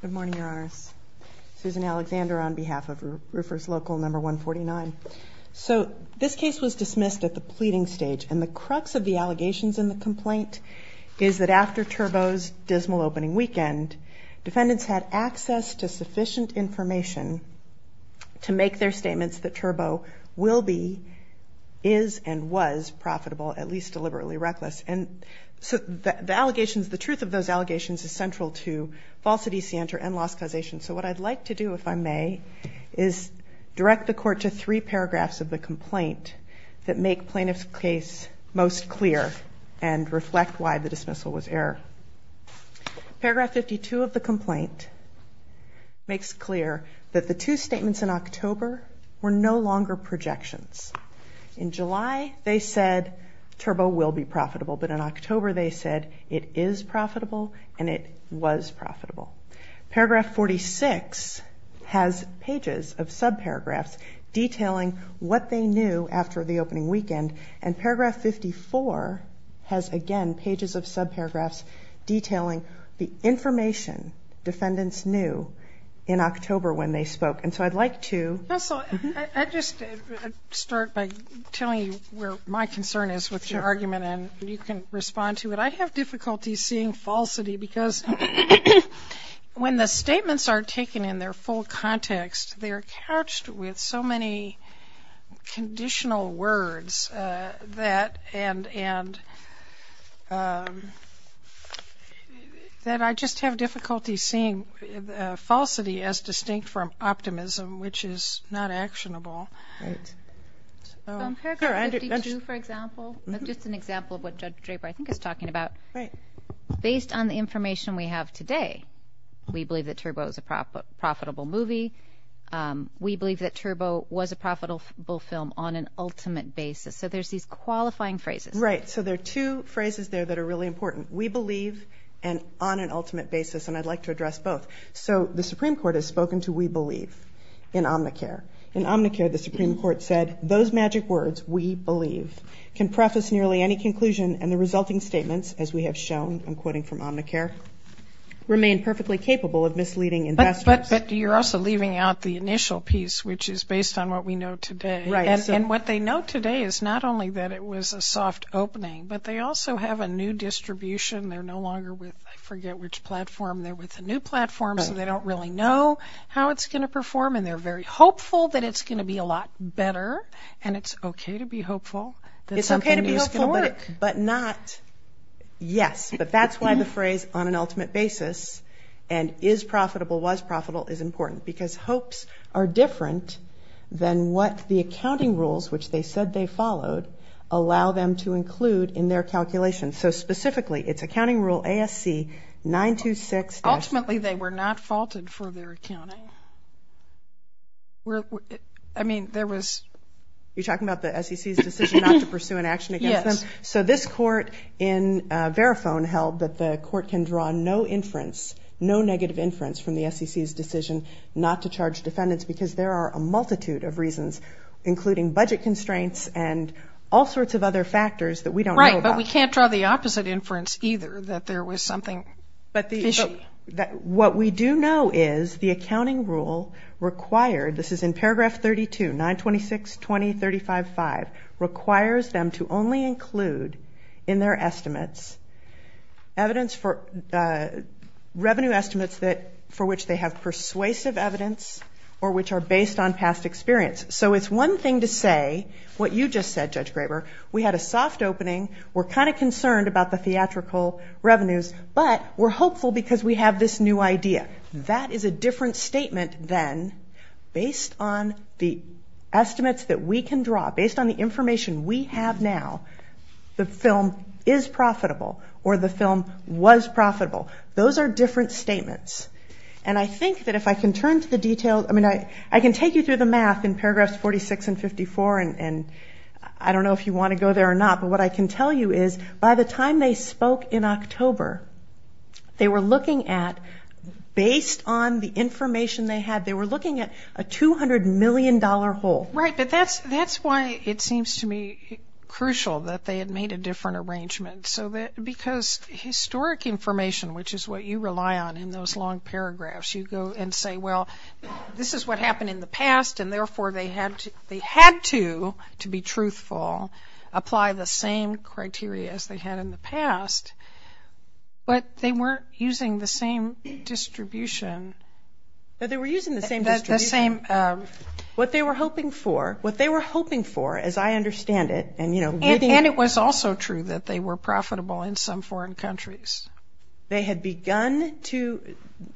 Good morning, Your Honors. Susan Alexander on behalf of Roofers Local No. 149. So this case was dismissed at the pleading stage, and the crux of the allegations in the complaint is that after Turbo's dismal opening weekend, defendants had access to sufficient information to make their statements that Turbo will be, is, and was profitable, at least deliberately reckless. And so the allegations, the truth of those allegations is central to falsity, scienter, and loss causation. So what I'd like to do, if I may, is direct the Court to three paragraphs of the complaint that make plaintiff's case most clear and reflect why the dismissal was error. Paragraph 52 of the complaint makes clear that the two statements in October were no longer projections. In July, they said Turbo will be profitable, but in October, they said it is profitable and it was profitable. Paragraph 46 has pages of subparagraphs detailing what they knew after the opening weekend, and paragraph 54 has, again, pages of subparagraphs detailing the information defendants knew in October when they spoke, and so I'd like to... Also, I'd just start by telling you where my concern is with your argument, and you can respond to it. I have difficulty seeing falsity because when the statements are taken in their full context, they're couched with so many conditional words that I just have difficulty seeing falsity as distinct from optimism, which is not actionable. Paragraph 52, for example, is just an example of what Judge Draper, I think, is talking about. Based on the information we have today, we believe that Turbo is a profitable movie. We believe that Turbo was a profitable film on an ultimate basis, so there's these qualifying phrases. Right, so there are two phrases there that are really important. We believe, and on an ultimate basis, and I'd like to address both. So the Supreme Court has spoken to we believe in Omnicare. In Omnicare, the Supreme Court said, those magic words, we believe, can preface nearly any conclusion, and the resulting statements, as we have shown, I'm quoting from Omnicare, remain perfectly capable of misleading investors. But you're also leaving out the initial piece, which is based on what we know today. Right. And what they know today is not only that it was a soft opening, but they also have a new distribution. They're no longer with, I forget which platform. They're with a new platform, so they don't really know how it's going to perform, and they're very hopeful that it's going to be a lot better, and it's okay to be hopeful that something is going to work. It's okay to be hopeful, but not, yes. But that's why the phrase, on an ultimate basis, and is profitable, was profitable, is important, because hopes are different than what the accounting rules, which they said they followed, allow them to include in their calculations. So specifically, it's accounting rule ASC 926- Ultimately, they were not faulted for their accounting. I mean, there was... You're talking about the SEC's decision not to pursue an action against them? Yes. So this court in Verifone held that the court can draw no inference, no negative inference from the SEC's decision not to charge defendants, because there are a multitude of reasons, including budget constraints and all sorts of other factors that we don't know about. But we can't draw the opposite inference, either, that there was something fishy. What we do know is the accounting rule required, this is in paragraph 32, 926-2035-5, requires them to only include in their estimates revenue estimates for which they have persuasive evidence or which are based on past experience. So it's one thing to say, what you just said, Judge Graber, we had a soft opening, we're kind of concerned about the theatrical revenues, but we're hopeful because we have this new idea. That is a different statement than based on the estimates that we can draw, based on the information we have now, the film is profitable, or the film was profitable. Those are different statements. And I think that if I can turn to the details, I mean, I can take you through the math in paragraphs 46 and 54, and I don't know if you want to go there or not, but what I can tell you is, by the time they spoke in October, they were looking at, based on the information they had, they were looking at a $200 million hole. Right, but that's why it seems to me crucial that they had made a different arrangement. Because historic information, which is what you rely on in those long paragraphs, you go and say, well, this is what happened in the past, and therefore they had to, to be truthful, apply the same criteria as they had in the past, but they weren't using the same distribution. They were using the same distribution. What they were hoping for, what they were hoping for, as I understand it, And it was also true that they were profitable in some foreign countries. They had begun to,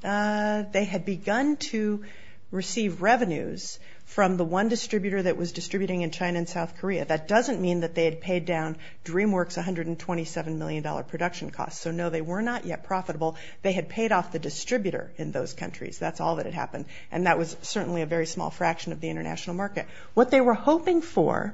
they had begun to receive revenues from the one distributor that was distributing in China and South Korea. That doesn't mean that they had paid down DreamWorks' $127 million production costs. So no, they were not yet profitable. They had paid off the distributor in those countries. That's all that had happened. And that was certainly a very small fraction of the international market. What they were hoping for,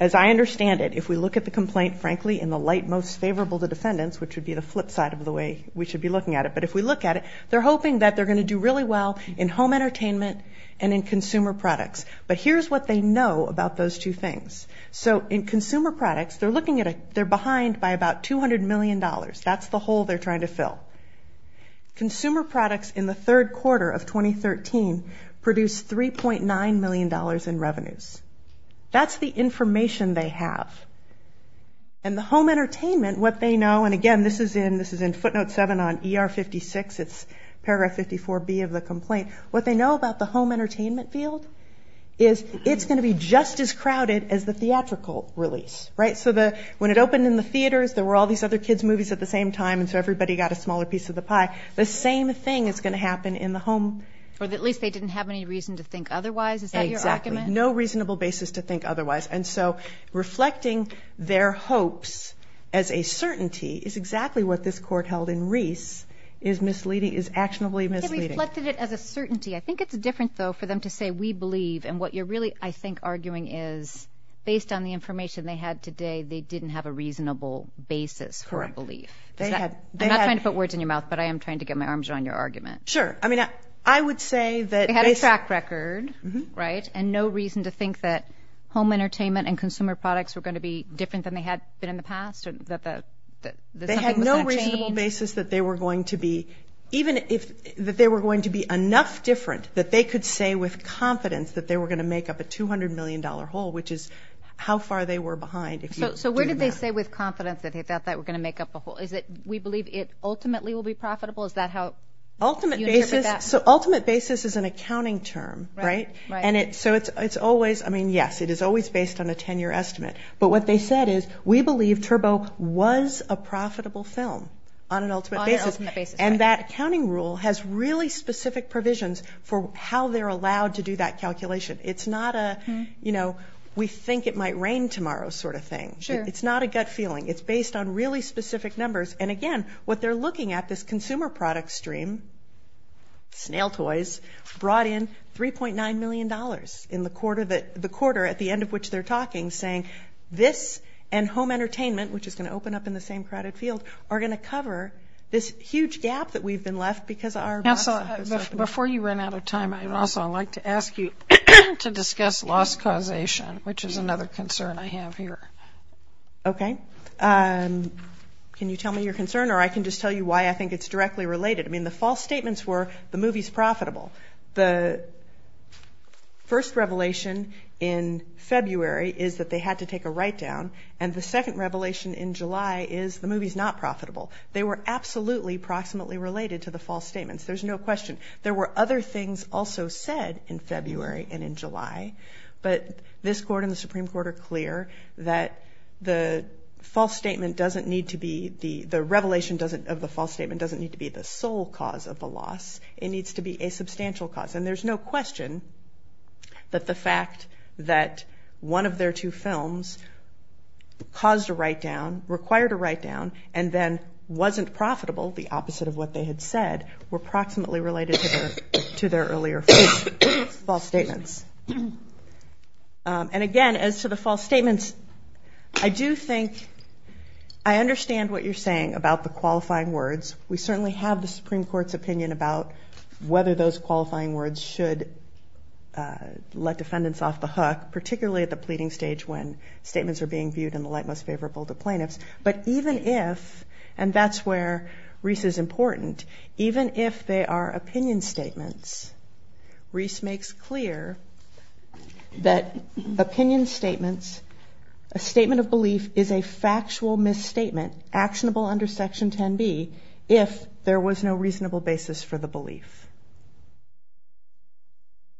as I understand it, if we look at the complaint, frankly, in the light most favorable to defendants, which would be the flip side of the way we should be looking at it, but if we look at it, they're hoping that they're going to do really well in home entertainment and in consumer products. But here's what they know about those two things. So in consumer products, they're looking at, they're behind by about $200 million. That's the hole they're trying to fill. Consumer products in the third quarter of 2013 produced $3.9 million in revenues. That's the information they have. And the home entertainment, what they know, and again, this is in footnote 7 on ER 56. It's paragraph 54B of the complaint. What they know about the home entertainment field is it's going to be just as crowded as the theatrical release, right? So when it opened in the theaters, there were all these other kids' movies at the same time, and so everybody got a smaller piece of the pie. The same thing is going to happen in the home. Or at least they didn't have any reason to think otherwise. Is that your argument? Exactly. No reasonable basis to think otherwise. And so reflecting their hopes as a certainty is exactly what this court held in Reese is actionably misleading. They reflected it as a certainty. I think it's different, though, for them to say, we believe, and what you're really, I think, arguing is based on the information they had today, they didn't have a reasonable basis for a belief. I'm not trying to put words in your mouth, but I am trying to get my arms around your argument. Sure. I mean, I would say that... They had a track record, right? And no reason to think that home entertainment and consumer products were going to be different than they had been in the past, or that something was going to change? They had no reasonable basis that they were going to be, even if they were going to be enough different that they could say with confidence that they were going to make up a $200 million hole, which is how far they were behind. So where did they say with confidence that they thought they were going to make up a hole? Is it we believe it ultimately will be profitable? Is that how you interpret that? So ultimate basis is an accounting term, right? And so it's always, I mean, yes, it is always based on a 10-year estimate. But what they said is, we believe Turbo was a profitable film on an ultimate basis. On an ultimate basis, right. And that accounting rule has really specific provisions for how they're allowed to do that calculation. It's not a, you know, we think it might rain tomorrow sort of thing. Sure. It's not a gut feeling. It's based on really specific numbers. And again, what they're looking at, this consumer product stream, snail toys, brought in $3.9 million in the quarter that, the quarter at the end of which they're talking, saying this and home entertainment, which is going to open up in the same crowded field, are going to cover this huge gap that we've been left because our box office. Before you run out of time, I'd also like to ask you to discuss loss causation, which is another concern I have here. Okay. Can you tell me your concern? Or I can just tell you why I think it's directly related. I mean, the false statements were the movie's profitable. The first revelation in February is that they had to take a write-down. And the second revelation in July is the movie's not profitable. They were absolutely proximately related to the false statements. There's no question. There were other things also said in February and in July. But this court and the Supreme Court are clear that the false statement doesn't need to be, the revelation of the false statement doesn't need to be the sole cause of the loss. It needs to be a substantial cause. And there's no question that the fact that one of their two films caused a write-down, required a write-down, and then wasn't profitable, the opposite of what they had said, were proximately related to their earlier false statements. And again, as to the false statements, I do think I understand what you're saying about the qualifying words. We certainly have the Supreme Court's opinion about whether those qualifying words should let defendants off the hook, particularly at the pleading stage when statements are being viewed in the light most favorable to plaintiffs. But even if, and that's where Reese is important, even if they are opinion statements, Reese makes clear that opinion statements, a statement of belief is a factual misstatement, actionable under Section 10B if there was no reasonable basis for the belief.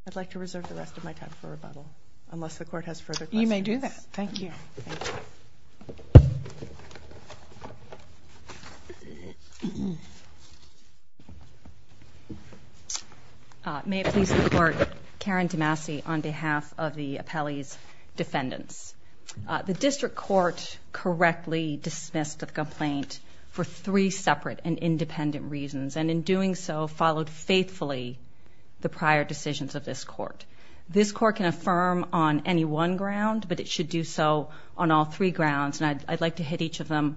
I'd like to reserve the rest of my time for rebuttal, unless the Court has further questions. You may do that. Thank you. Thank you. May it please the Court, Karen DeMasi on behalf of the appellee's defendants. The District Court correctly dismissed the complaint for three separate and independent reasons, and in doing so, followed faithfully the prior decisions of this Court. This Court can affirm on any one ground, but it should do so on all three grounds, and I'd like to hit each of them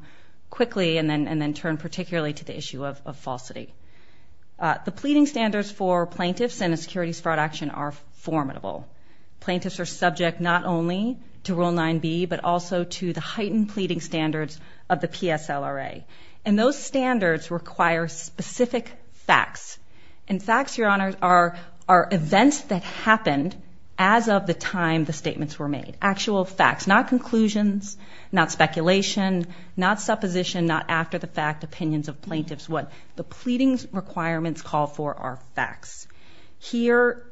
quickly and then turn particularly to the issue of falsity. The pleading standards for plaintiffs in a securities fraud action are formidable. Plaintiffs are subject not only to Rule 9B, but also to the heightened pleading standards of the PSLRA, and those standards require specific facts, and facts, Your Honor, are events that happened as of the time the statements were made, actual facts, not conclusions, not speculation, not supposition, not after-the-fact opinions of plaintiffs. What the pleading requirements call for are facts. Here,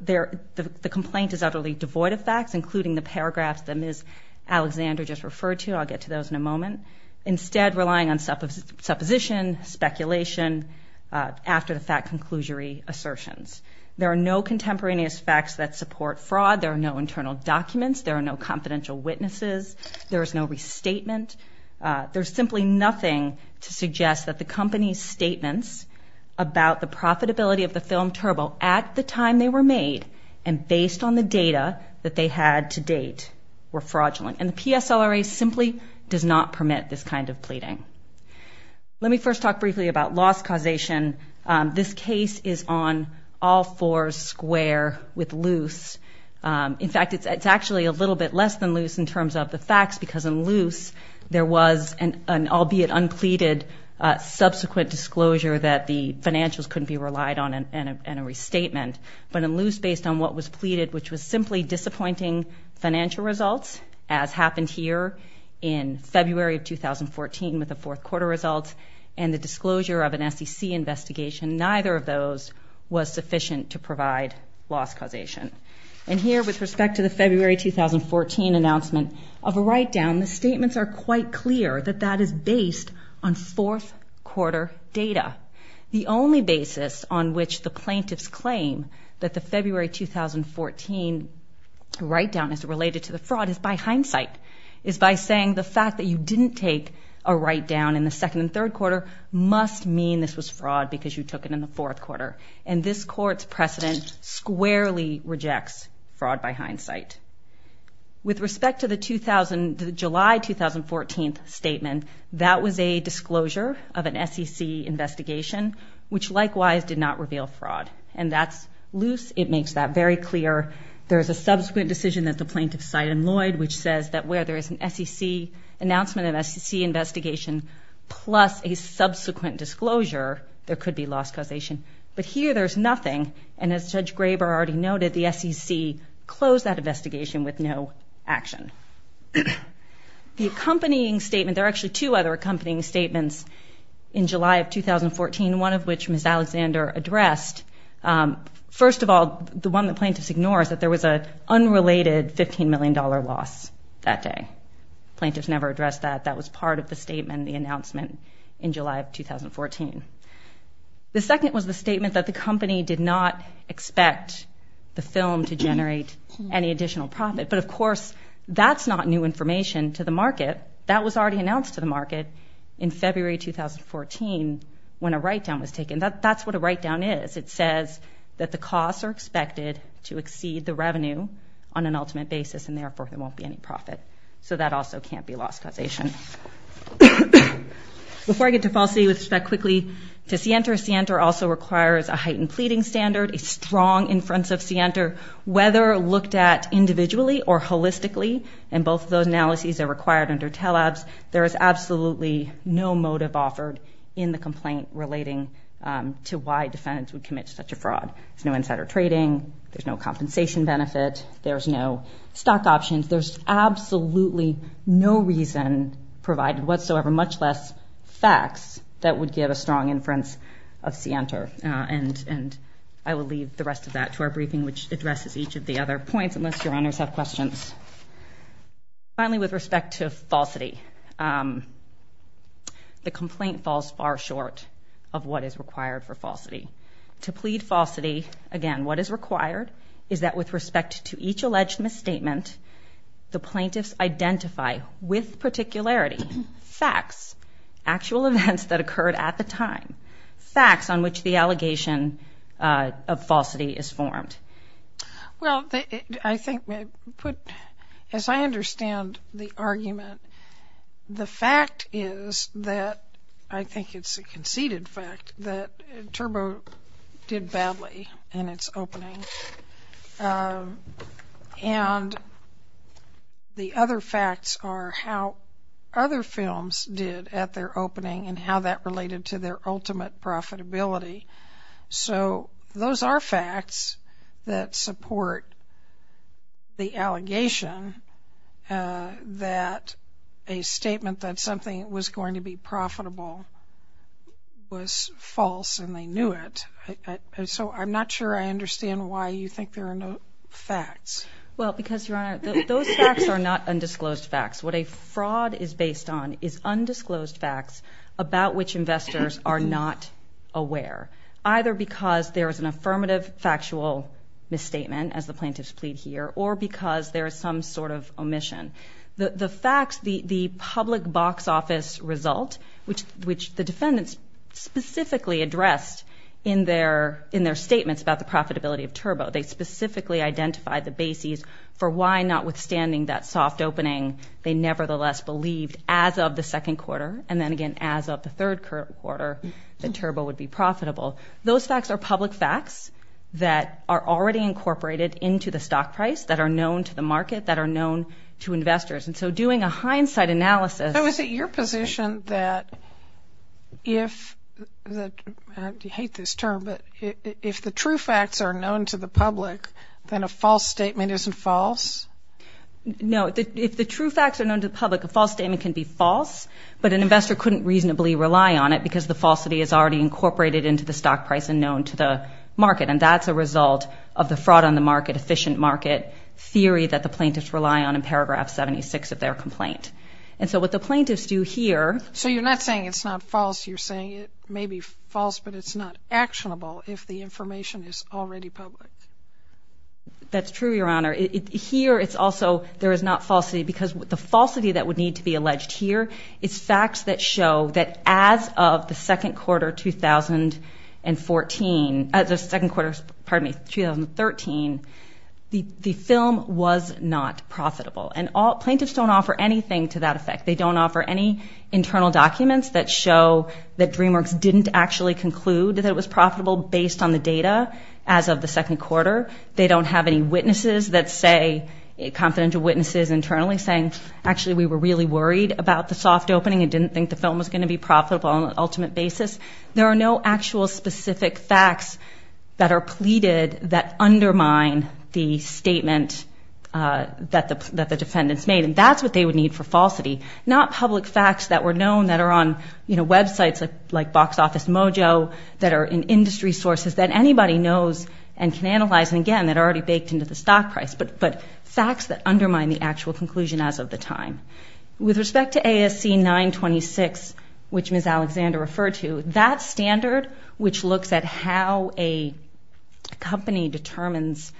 the complaint is utterly devoid of facts, including the paragraphs that Ms. Alexander just referred to. I'll get to those in a moment. Instead, relying on supposition, speculation, after-the-fact conclusory assertions. There are no contemporaneous facts that support fraud. There are no internal documents. There are no confidential witnesses. There's simply nothing to suggest that the company's statements about the profitability of the film Turbo at the time they were made and based on the data that they had to date were fraudulent, and the PSLRA simply does not permit this kind of pleading. Let me first talk briefly about loss causation. This case is on all fours square with loose. In fact, it's actually a little bit less than loose in terms of the facts, because in loose, there was an albeit unpleaded subsequent disclosure that the financials couldn't be relied on in a restatement. But in loose, based on what was pleaded, which was simply disappointing financial results, as happened here in February of 2014 with the fourth quarter results and the disclosure of an SEC investigation, neither of those was sufficient to provide loss causation. And here, with respect to the February 2014 announcement of a write-down, the statements are quite clear that that is based on fourth quarter data. The only basis on which the plaintiffs claim that the February 2014 write-down is related to the fraud is by hindsight, is by saying the fact that you didn't take a write-down in the second and third quarter must mean this was fraud because you took it in the fourth quarter. And this Court's precedent squarely rejects fraud by hindsight. With respect to the July 2014 statement, that was a disclosure of an SEC investigation, which likewise did not reveal fraud. And that's loose. It makes that very clear. There is a subsequent decision that the plaintiffs cite in Lloyd, which says that where there is an SEC announcement, an SEC investigation, plus a subsequent disclosure, there could be loss causation. But here, there's nothing, and as Judge Graber already noted, the SEC closed that investigation with no action. The accompanying statement, there are actually two other accompanying statements in July of 2014, one of which Ms. Alexander addressed. First of all, the one the plaintiffs ignore is that there was an unrelated $15 million loss that day. The plaintiffs never addressed that. That was part of the statement, the announcement in July of 2014. The second was the statement that the company did not expect the film to generate any additional profit. But of course, that's not new information to the market. That was already announced to the market in February 2014 when a write-down was taken. That's what a write-down is. It says that the costs are expected to exceed the revenue on an ultimate basis, and therefore, there won't be any profit. So that also can't be loss causation. Before I get to falsity with respect quickly to Sienter, Sienter also requires a heightened pleading standard, a strong inference of Sienter, whether looked at individually or holistically, and both of those analyses are required under TELABS. There is absolutely no motive offered in the complaint relating to why defendants would commit such a fraud. There's no insider trading. There's no compensation benefit. There's no stock options. There's absolutely no reason provided whatsoever, much less facts, that would give a strong inference of Sienter. And I will leave the rest of that to our briefing, which addresses each of the other points, unless your honors have questions. Finally, with respect to falsity, the complaint falls far short of what is required for falsity. To plead falsity, again, what is required is that with respect to each alleged misstatement, the plaintiffs identify with particularity facts, actual events that occurred at the time, facts on which the allegation of falsity is formed. Well, I think, as I understand the argument, the fact is that, I think it's a conceded fact, that Turbo did badly in its opening. And the other facts are how other films did at their opening and how that related to their ultimate profitability. So those are facts that support the allegation that a statement that something was going to be profitable was false and they knew it. So I'm not sure I understand why you think there are no facts. Well, because your honor, those facts are not undisclosed facts. What a fraud is based on is undisclosed facts about which investors are not aware, either because there is an affirmative factual misstatement, as the plaintiffs plead here, or because there is some sort of omission. The facts, the public box office result, which the defendants specifically addressed in their statements about the profitability of Turbo, they specifically identified the bases for why notwithstanding that soft opening, they nevertheless believed as of the second quarter and then again as of the third quarter that Turbo would be profitable. Those facts are public facts that are already incorporated into the stock price, that are known to the market, that are known to investors. And so doing a hindsight analysis... I hate this term, but if the true facts are known to the public, then a false statement isn't false? No, if the true facts are known to the public, a false statement can be false, but an investor couldn't reasonably rely on it because the falsity is already incorporated into the stock price and known to the market. And that's a result of the fraud on the market, efficient market theory that the plaintiffs rely on in paragraph 76 of their complaint. And so what the plaintiffs do here... So you're not saying it's not false. You're saying it may be false, but it's not actionable if the information is already public. That's true, Your Honor. Here it's also there is not falsity because the falsity that would need to be alleged here is facts that show that as of the second quarter 2014... the second quarter, pardon me, 2013, the film was not profitable. And plaintiffs don't offer anything to that effect. They don't offer any internal documents that show that DreamWorks didn't actually conclude that it was profitable based on the data as of the second quarter. They don't have any witnesses that say... confidential witnesses internally saying, actually, we were really worried about the soft opening and didn't think the film was going to be profitable on an ultimate basis. There are no actual specific facts that are pleaded that undermine the statement that the defendants made. And that's what they would need for falsity. Not public facts that were known that are on websites like Box Office Mojo, that are in industry sources that anybody knows and can analyze, and again, that are already baked into the stock price. But facts that undermine the actual conclusion as of the time. With respect to ASC 926, which Ms. Alexander referred to, that standard, which looks at how a company determines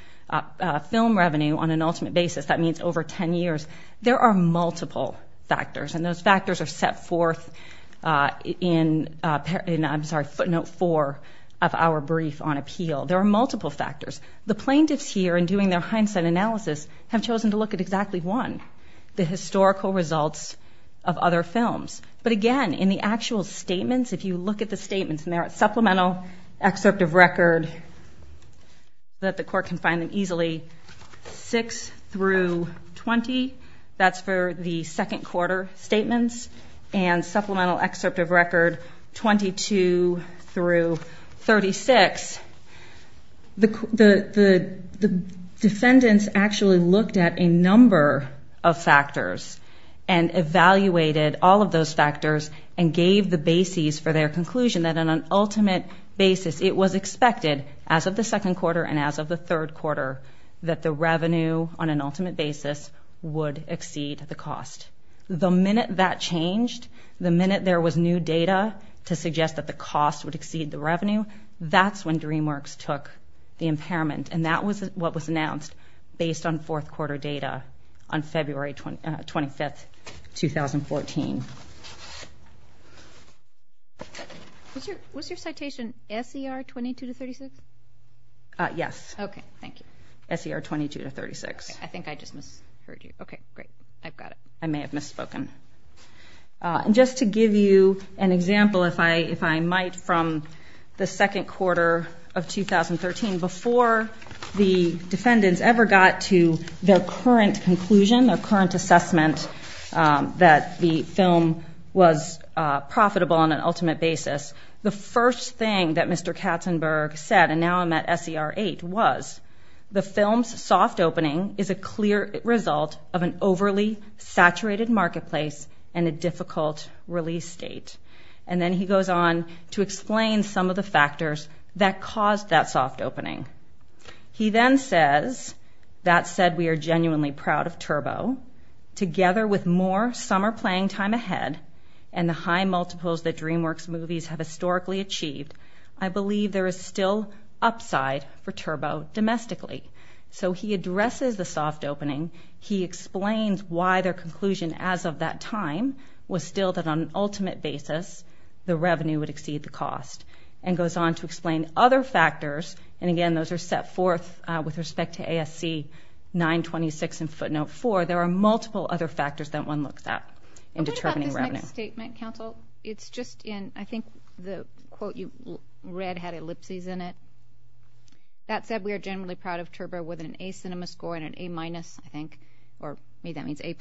film revenue on an ultimate basis, that means over 10 years, there are multiple factors. And those factors are set forth in footnote 4 of our brief on appeal. There are multiple factors. The plaintiffs here, in doing their hindsight analysis, have chosen to look at exactly one, the historical results of other films. But again, in the actual statements, if you look at the statements, in their supplemental excerpt of record, that the court can find them easily, 6 through 20, that's for the second quarter statements, and supplemental excerpt of record 22 through 36, the defendants actually looked at a number of factors and evaluated all of those factors and gave the bases for their conclusion that on an ultimate basis, it was expected as of the second quarter and as of the third quarter that the revenue on an ultimate basis would exceed the cost. The minute that changed, the minute there was new data to suggest that the cost would exceed the revenue, that's when DreamWorks took the impairment, and that was what was announced based on fourth quarter data on February 25, 2014. Was your citation S.E.R. 22 to 36? Yes. Okay, thank you. S.E.R. 22 to 36. I think I just misheard you. Okay, great. I've got it. I may have misspoken. Just to give you an example, if I might, from the second quarter of 2013, before the defendants ever got to their current conclusion, their current assessment that the film was profitable on an ultimate basis, the first thing that Mr. Katzenberg said, and now I'm at S.E.R. 8, was, the film's soft opening is a clear result of an overly saturated marketplace and a difficult release date. And then he goes on to explain some of the factors that caused that soft opening. He then says, that said, we are genuinely proud of Turbo. Together with more summer playing time ahead and the high multiples that DreamWorks movies have historically achieved, I believe there is still upside for Turbo domestically. So he addresses the soft opening. He explains why their conclusion as of that time was still that on an ultimate basis, the revenue would exceed the cost, and goes on to explain other factors, and again, those are set forth with respect to ASC 926 and footnote 4. There are multiple other factors that one looks at in determining revenue. What about this next statement, counsel? It's just in, I think the quote you read had ellipses in it. That said, we are generally proud of Turbo with an A Cinema score and an A-, I think, or to me that means A+,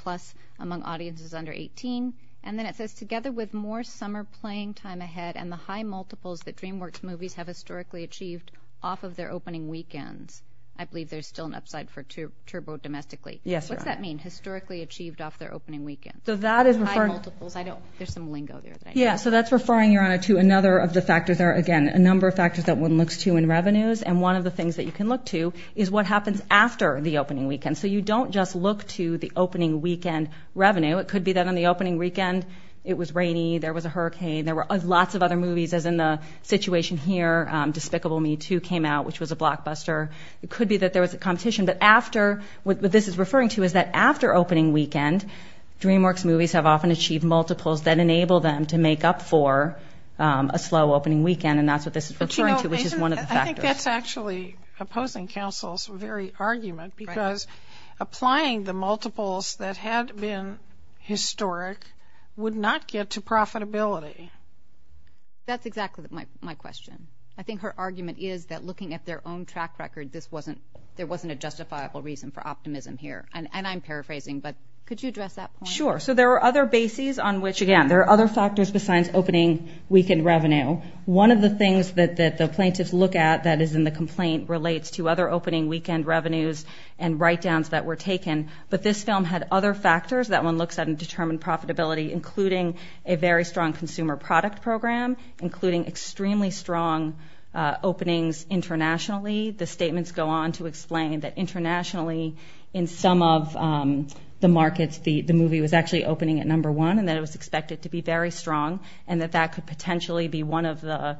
among audiences under 18. And then it says, together with more summer playing time ahead and the high multiples that DreamWorks movies have historically achieved off of their opening weekends, I believe there is still an upside for Turbo domestically. Yes, Your Honor. What's that mean, historically achieved off their opening weekends? So that is referring... High multiples, I don't, there's some lingo there. Yeah, so that's referring, Your Honor, to another of the factors there, again, a number of factors that one looks to in revenues, and one of the things that you can look to is what happens after the opening weekend. So you don't just look to the opening weekend revenue. It could be that on the opening weekend it was rainy, there was a hurricane, there were lots of other movies, as in the situation here, Despicable Me 2 came out, which was a blockbuster. It could be that there was a competition, but after, what this is referring to is that after opening weekend, DreamWorks movies have often achieved multiples that enable them to make up for a slow opening weekend, and that's what this is referring to, which is one of the factors. I think that's actually opposing counsel's very argument, because applying the multiples that had been historic would not get to profitability. That's exactly my question. I think her argument is that looking at their own track record, there wasn't a justifiable reason for optimism here, and I'm paraphrasing, but could you address that point? Sure. So there are other bases on which, again, there are other factors besides opening weekend revenue. One of the things that the plaintiffs look at that is in the complaint relates to other opening weekend revenues and write-downs that were taken, but this film had other factors that one looks at in determined profitability, including a very strong consumer product program, including extremely strong openings internationally. The statements go on to explain that internationally in some of the markets, the movie was actually opening at number one and that it was expected to be very strong and that that could potentially be one of the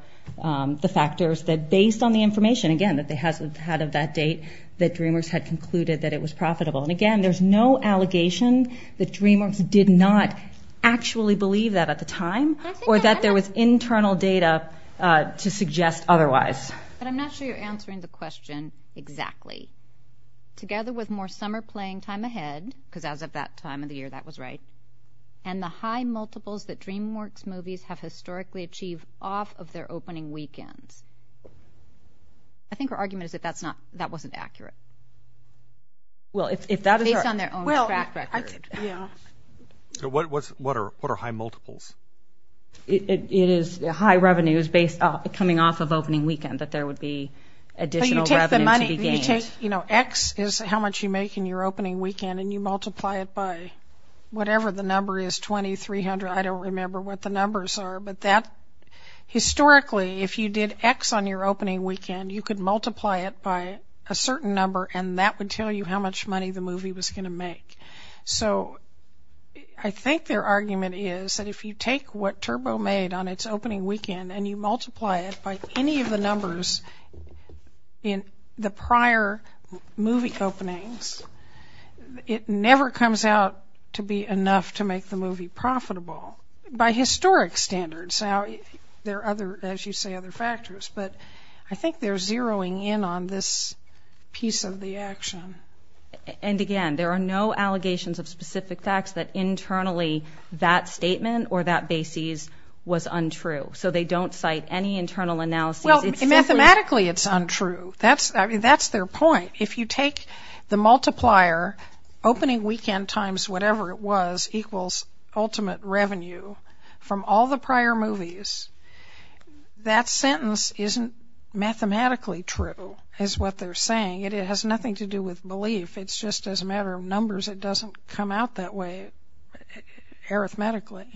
factors that based on the information, again, that they had of that date, that DreamWorks had concluded that it was profitable. And again, there's no allegation that DreamWorks did not actually believe that at the time or that there was internal data to suggest otherwise. But I'm not sure you're answering the question exactly. Together with more summer playing time ahead, because as of that time of the year, that was right, and the high multiples that DreamWorks movies have historically achieved off of their opening weekends. I think her argument is that that wasn't accurate. Based on their own track record. What are high multiples? It is high revenues coming off of opening weekend that there would be additional revenue to be gained. X is how much you make in your opening weekend and you multiply it by whatever the number is, 20, 300, I don't remember what the numbers are. But historically, if you did X on your opening weekend, you could multiply it by a certain number and that would tell you how much money the movie was going to make. So I think their argument is that if you take what Turbo made on its opening weekend and you multiply it by any of the numbers in the prior movie openings, it never comes out to be enough to make the movie profitable. By historic standards. Now, there are other, as you say, other factors. But I think they're zeroing in on this piece of the action. And again, there are no allegations of specific facts that internally that statement or that basis was untrue. So they don't cite any internal analysis. Well, mathematically it's untrue. That's their point. If you take the multiplier, opening weekend times whatever it was equals ultimate revenue from all the prior movies, that sentence isn't mathematically true is what they're saying. It has nothing to do with belief. It's just as a matter of numbers. It doesn't come out that way arithmetically.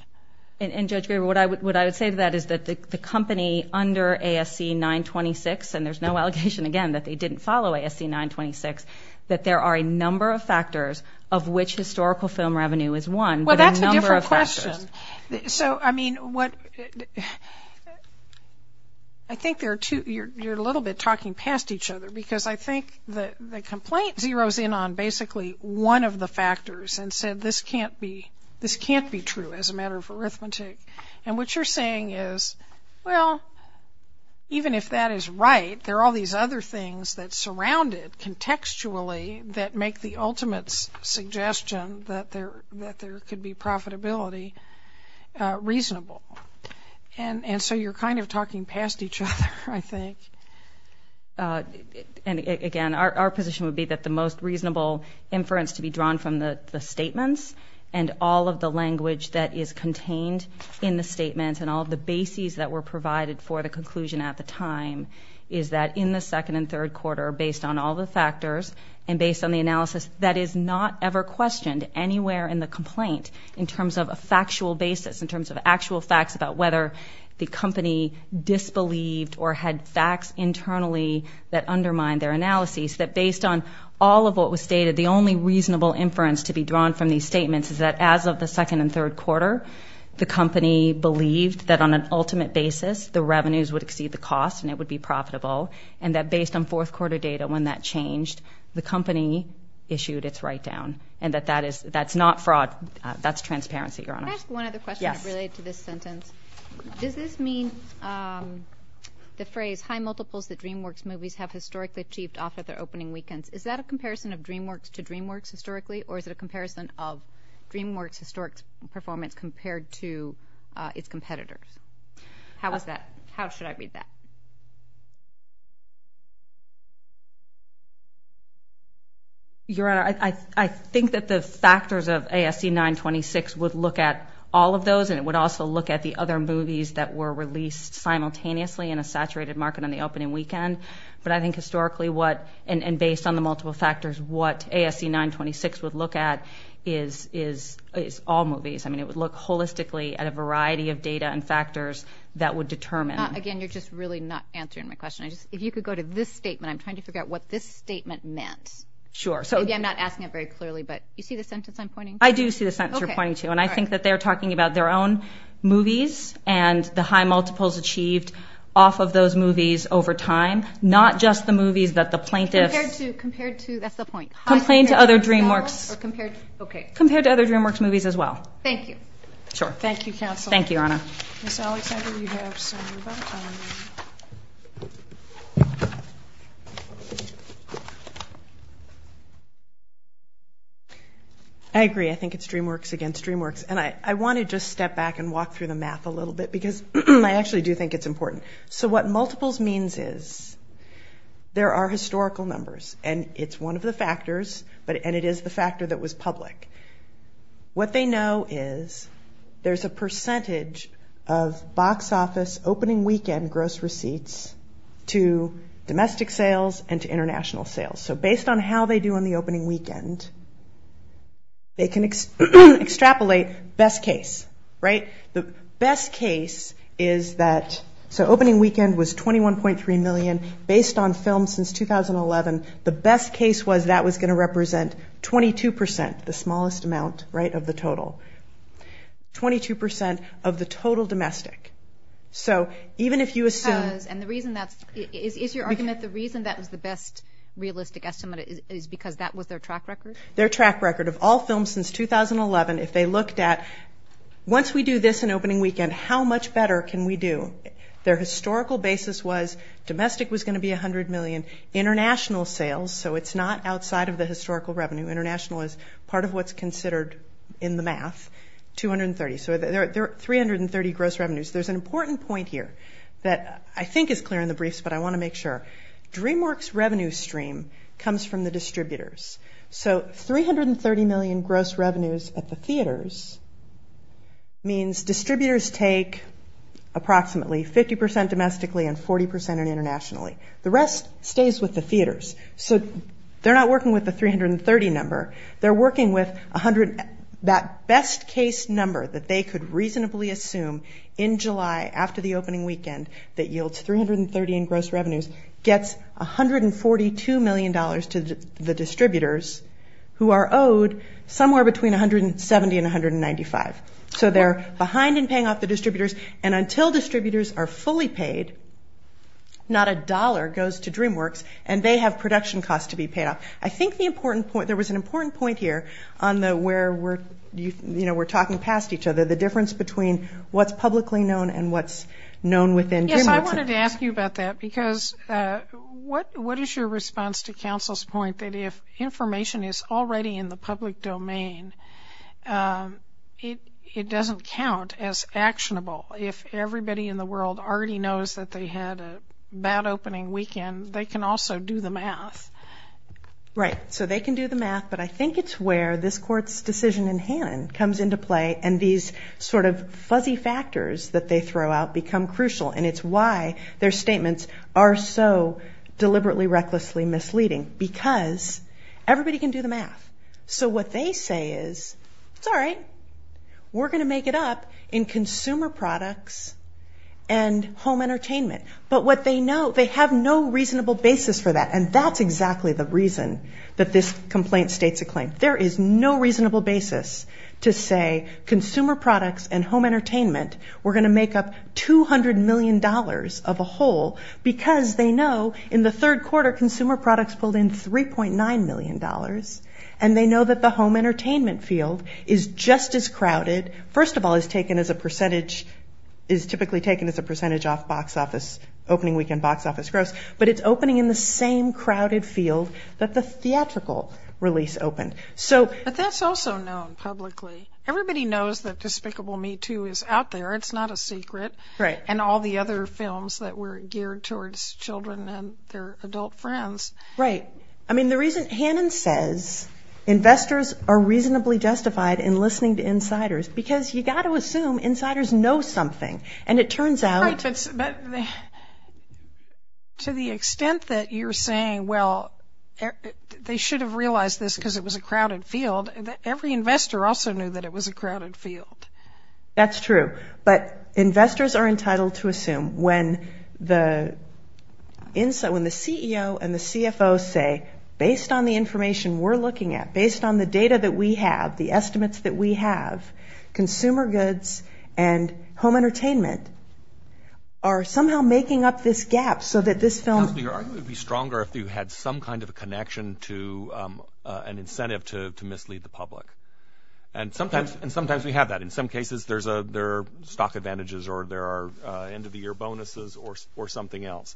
And Judge Graber, what I would say to that is that the company under ASC 926, and there's no allegation again that they didn't follow ASC 926, that there are a number of factors of which historical film revenue is one. Well, that's a different question. So, I mean, I think you're a little bit talking past each other because I think the complaint zeroes in on basically one of the factors and said this can't be true as a matter of arithmetic. And what you're saying is, well, even if that is right, there are all these other things that surround it contextually that make the ultimate suggestion that there could be profitability reasonable. And so you're kind of talking past each other, I think. Again, our position would be that the most reasonable inference to be drawn from the statements and all of the language that is contained in the statements and all of the bases that were provided for the conclusion at the time is that in the second and third quarter, based on all the factors and based on the analysis, that is not ever questioned anywhere in the complaint in terms of a factual basis, in terms of actual facts about whether the company disbelieved or had facts internally that undermined their analysis, that based on all of what was stated, the only reasonable inference to be drawn from these statements is that as of the second and third quarter, the company believed that on an ultimate basis, the revenues would exceed the cost and it would be profitable, and that based on fourth quarter data when that changed, the company issued its write-down, and that that's not fraud. That's transparency, Your Honor. Can I ask one other question related to this sentence? Does this mean the phrase high multiples that DreamWorks movies have historically achieved off of their opening weekends, is that a comparison of DreamWorks to DreamWorks historically, or is it a comparison of DreamWorks' historic performance compared to its competitors? How should I read that? Your Honor, I think that the factors of ASC 926 would look at all of those, and it would also look at the other movies that were released simultaneously in a saturated market on the opening weekend, but I think historically what, and based on the multiple factors, what ASC 926 would look at is all movies. I mean, it would look holistically at a variety of data and factors that would determine. Again, you're just really not answering my question. If you could go to this statement, I'm trying to figure out what this statement meant. Maybe I'm not asking it very clearly, but you see the sentence I'm pointing to? I do see the sentence you're pointing to, and I think that they're talking about their own movies and the high multiples achieved off of those movies over time, not just the movies that the plaintiffs... Compared to, that's the point. Compared to other DreamWorks... Compared to other DreamWorks movies as well. Thank you. Sure. Thank you, counsel. Thank you, Your Honor. Ms. Alexander, you have some more time. I agree. I think it's DreamWorks against DreamWorks, and I want to just step back and walk through the math a little bit because I actually do think it's important. So what multiples means is there are historical numbers, and it's one of the factors, and it is the factor that was public. What they know is there's a percentage of box office opening weekend gross receipts to domestic sales and to international sales. So based on how they do on the opening weekend, they can extrapolate best case, right? The best case is that... So opening weekend was $21.3 million. Based on films since 2011, the best case was that was going to represent 22 percent, the smallest amount, right, of the total. 22 percent of the total domestic. So even if you assume... Because, and the reason that's... Is your argument the reason that was the best realistic estimate is because that was their track record? Their track record of all films since 2011, if they looked at once we do this in opening weekend, how much better can we do? Their historical basis was domestic was going to be $100 million. International sales, so it's not outside of the historical revenue. International is part of what's considered, in the math, 230. So there are 330 gross revenues. There's an important point here that I think is clear in the briefs, but I want to make sure. DreamWorks revenue stream comes from the distributors. So 330 million gross revenues at the theaters means distributors take approximately 50 percent domestically and 40 percent internationally. The rest stays with the theaters. So they're not working with the 330 number. They're working with 100... That best case number that they could reasonably assume in July after the opening weekend that yields 330 in gross revenues gets $142 million to the distributors who are owed somewhere between 170 and 195. So they're behind in paying off the distributors and until distributors are fully paid, not a dollar goes to DreamWorks, and they have production costs to be paid off. I think there was an important point here on where we're talking past each other, the difference between what's publicly known and what's known within DreamWorks. Yes, I wanted to ask you about that because what is your response to counsel's point that if information is already in the public domain, it doesn't count as actionable if everybody in the world already knows that they had a bad opening weekend, they can also do the math? Right, so they can do the math, but I think it's where this Court's decision in Hannon comes into play and these sort of fuzzy factors that they throw out become crucial, and it's why their statements are so deliberately, recklessly misleading, because everybody can do the math. So what they say is, it's all right, we're going to make it up in consumer products and home entertainment. But what they know, they have no reasonable basis for that, and that's exactly the reason that this complaint states a claim. There is no reasonable basis to say consumer products and home entertainment, we're going to make up $200 million of a whole because they know in the third quarter consumer products pulled in $3.9 million, and they know that the home entertainment field is just as crowded, first of all is taken as a percentage, is typically taken as a percentage off opening weekend box office gross, but it's opening in the same crowded field that the theatrical release opened. But that's also known publicly. Everybody knows that Despicable Me 2 is out there, it's not a secret, and all the other films that were geared towards children and their adult friends. Right. I mean, the reason Hannon says investors are reasonably justified in listening to insiders, because you've got to assume insiders know something, and it turns out... Right, but to the extent that you're saying, well, they should have realized this because it was a crowded field, every investor also knew that it was a crowded field. That's true. But investors are entitled to assume when the CEO and the CFO say, based on the information we're looking at, based on the data that we have, the estimates that we have, consumer goods and home entertainment are somehow making up this gap so that this film... Counselor, your argument would be stronger if you had some kind of a connection to an incentive to mislead the public. And sometimes we have that. In some cases, there are stock advantages or there are end-of-the-year bonuses or something else.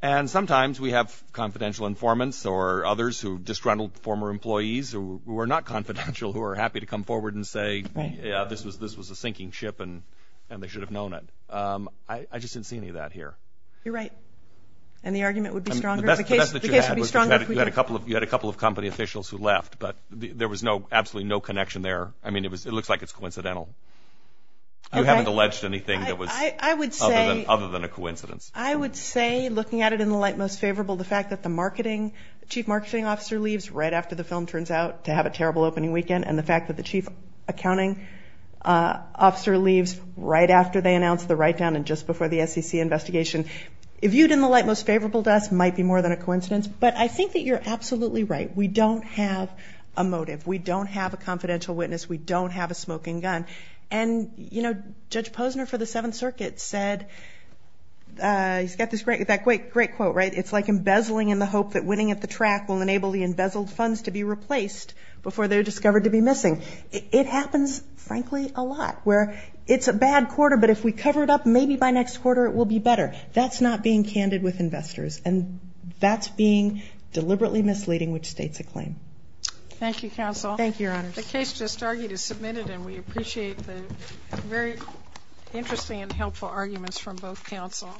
And sometimes we have confidential informants or others who have disgruntled former employees who are not confidential who are happy to come forward and say, yeah, this was a sinking ship and they should have known it. I just didn't see any of that here. You're right. And the argument would be stronger... The best that you had was you had a couple of company officials who left, but there was absolutely no connection there. I mean, it looks like it's coincidental. You haven't alleged anything that was... I would say... ...other than a coincidence. I would say, looking at it in the light most favorable, the fact that the chief marketing officer leaves right after the film turns out to have a terrible opening weekend, and the fact that the chief accounting officer leaves right after they announce the write-down and just before the SEC investigation, viewed in the light most favorable to us, might be more than a coincidence. But I think that you're absolutely right. We don't have a motive. We don't have a confidential witness. We don't have a smoking gun. And, you know, Judge Posner for the Seventh Circuit said... He's got that great quote, right? It's like embezzling in the hope that winning at the track will enable the embezzled funds to be replaced before they're discovered to be missing. It happens, frankly, a lot, where it's a bad quarter, but if we cover it up, maybe by next quarter it will be better. That's not being candid with investors, which states a claim. Thank you, counsel. Thank you, Your Honors. The case just argued is submitted, and we appreciate the very interesting and helpful arguments from both counsel.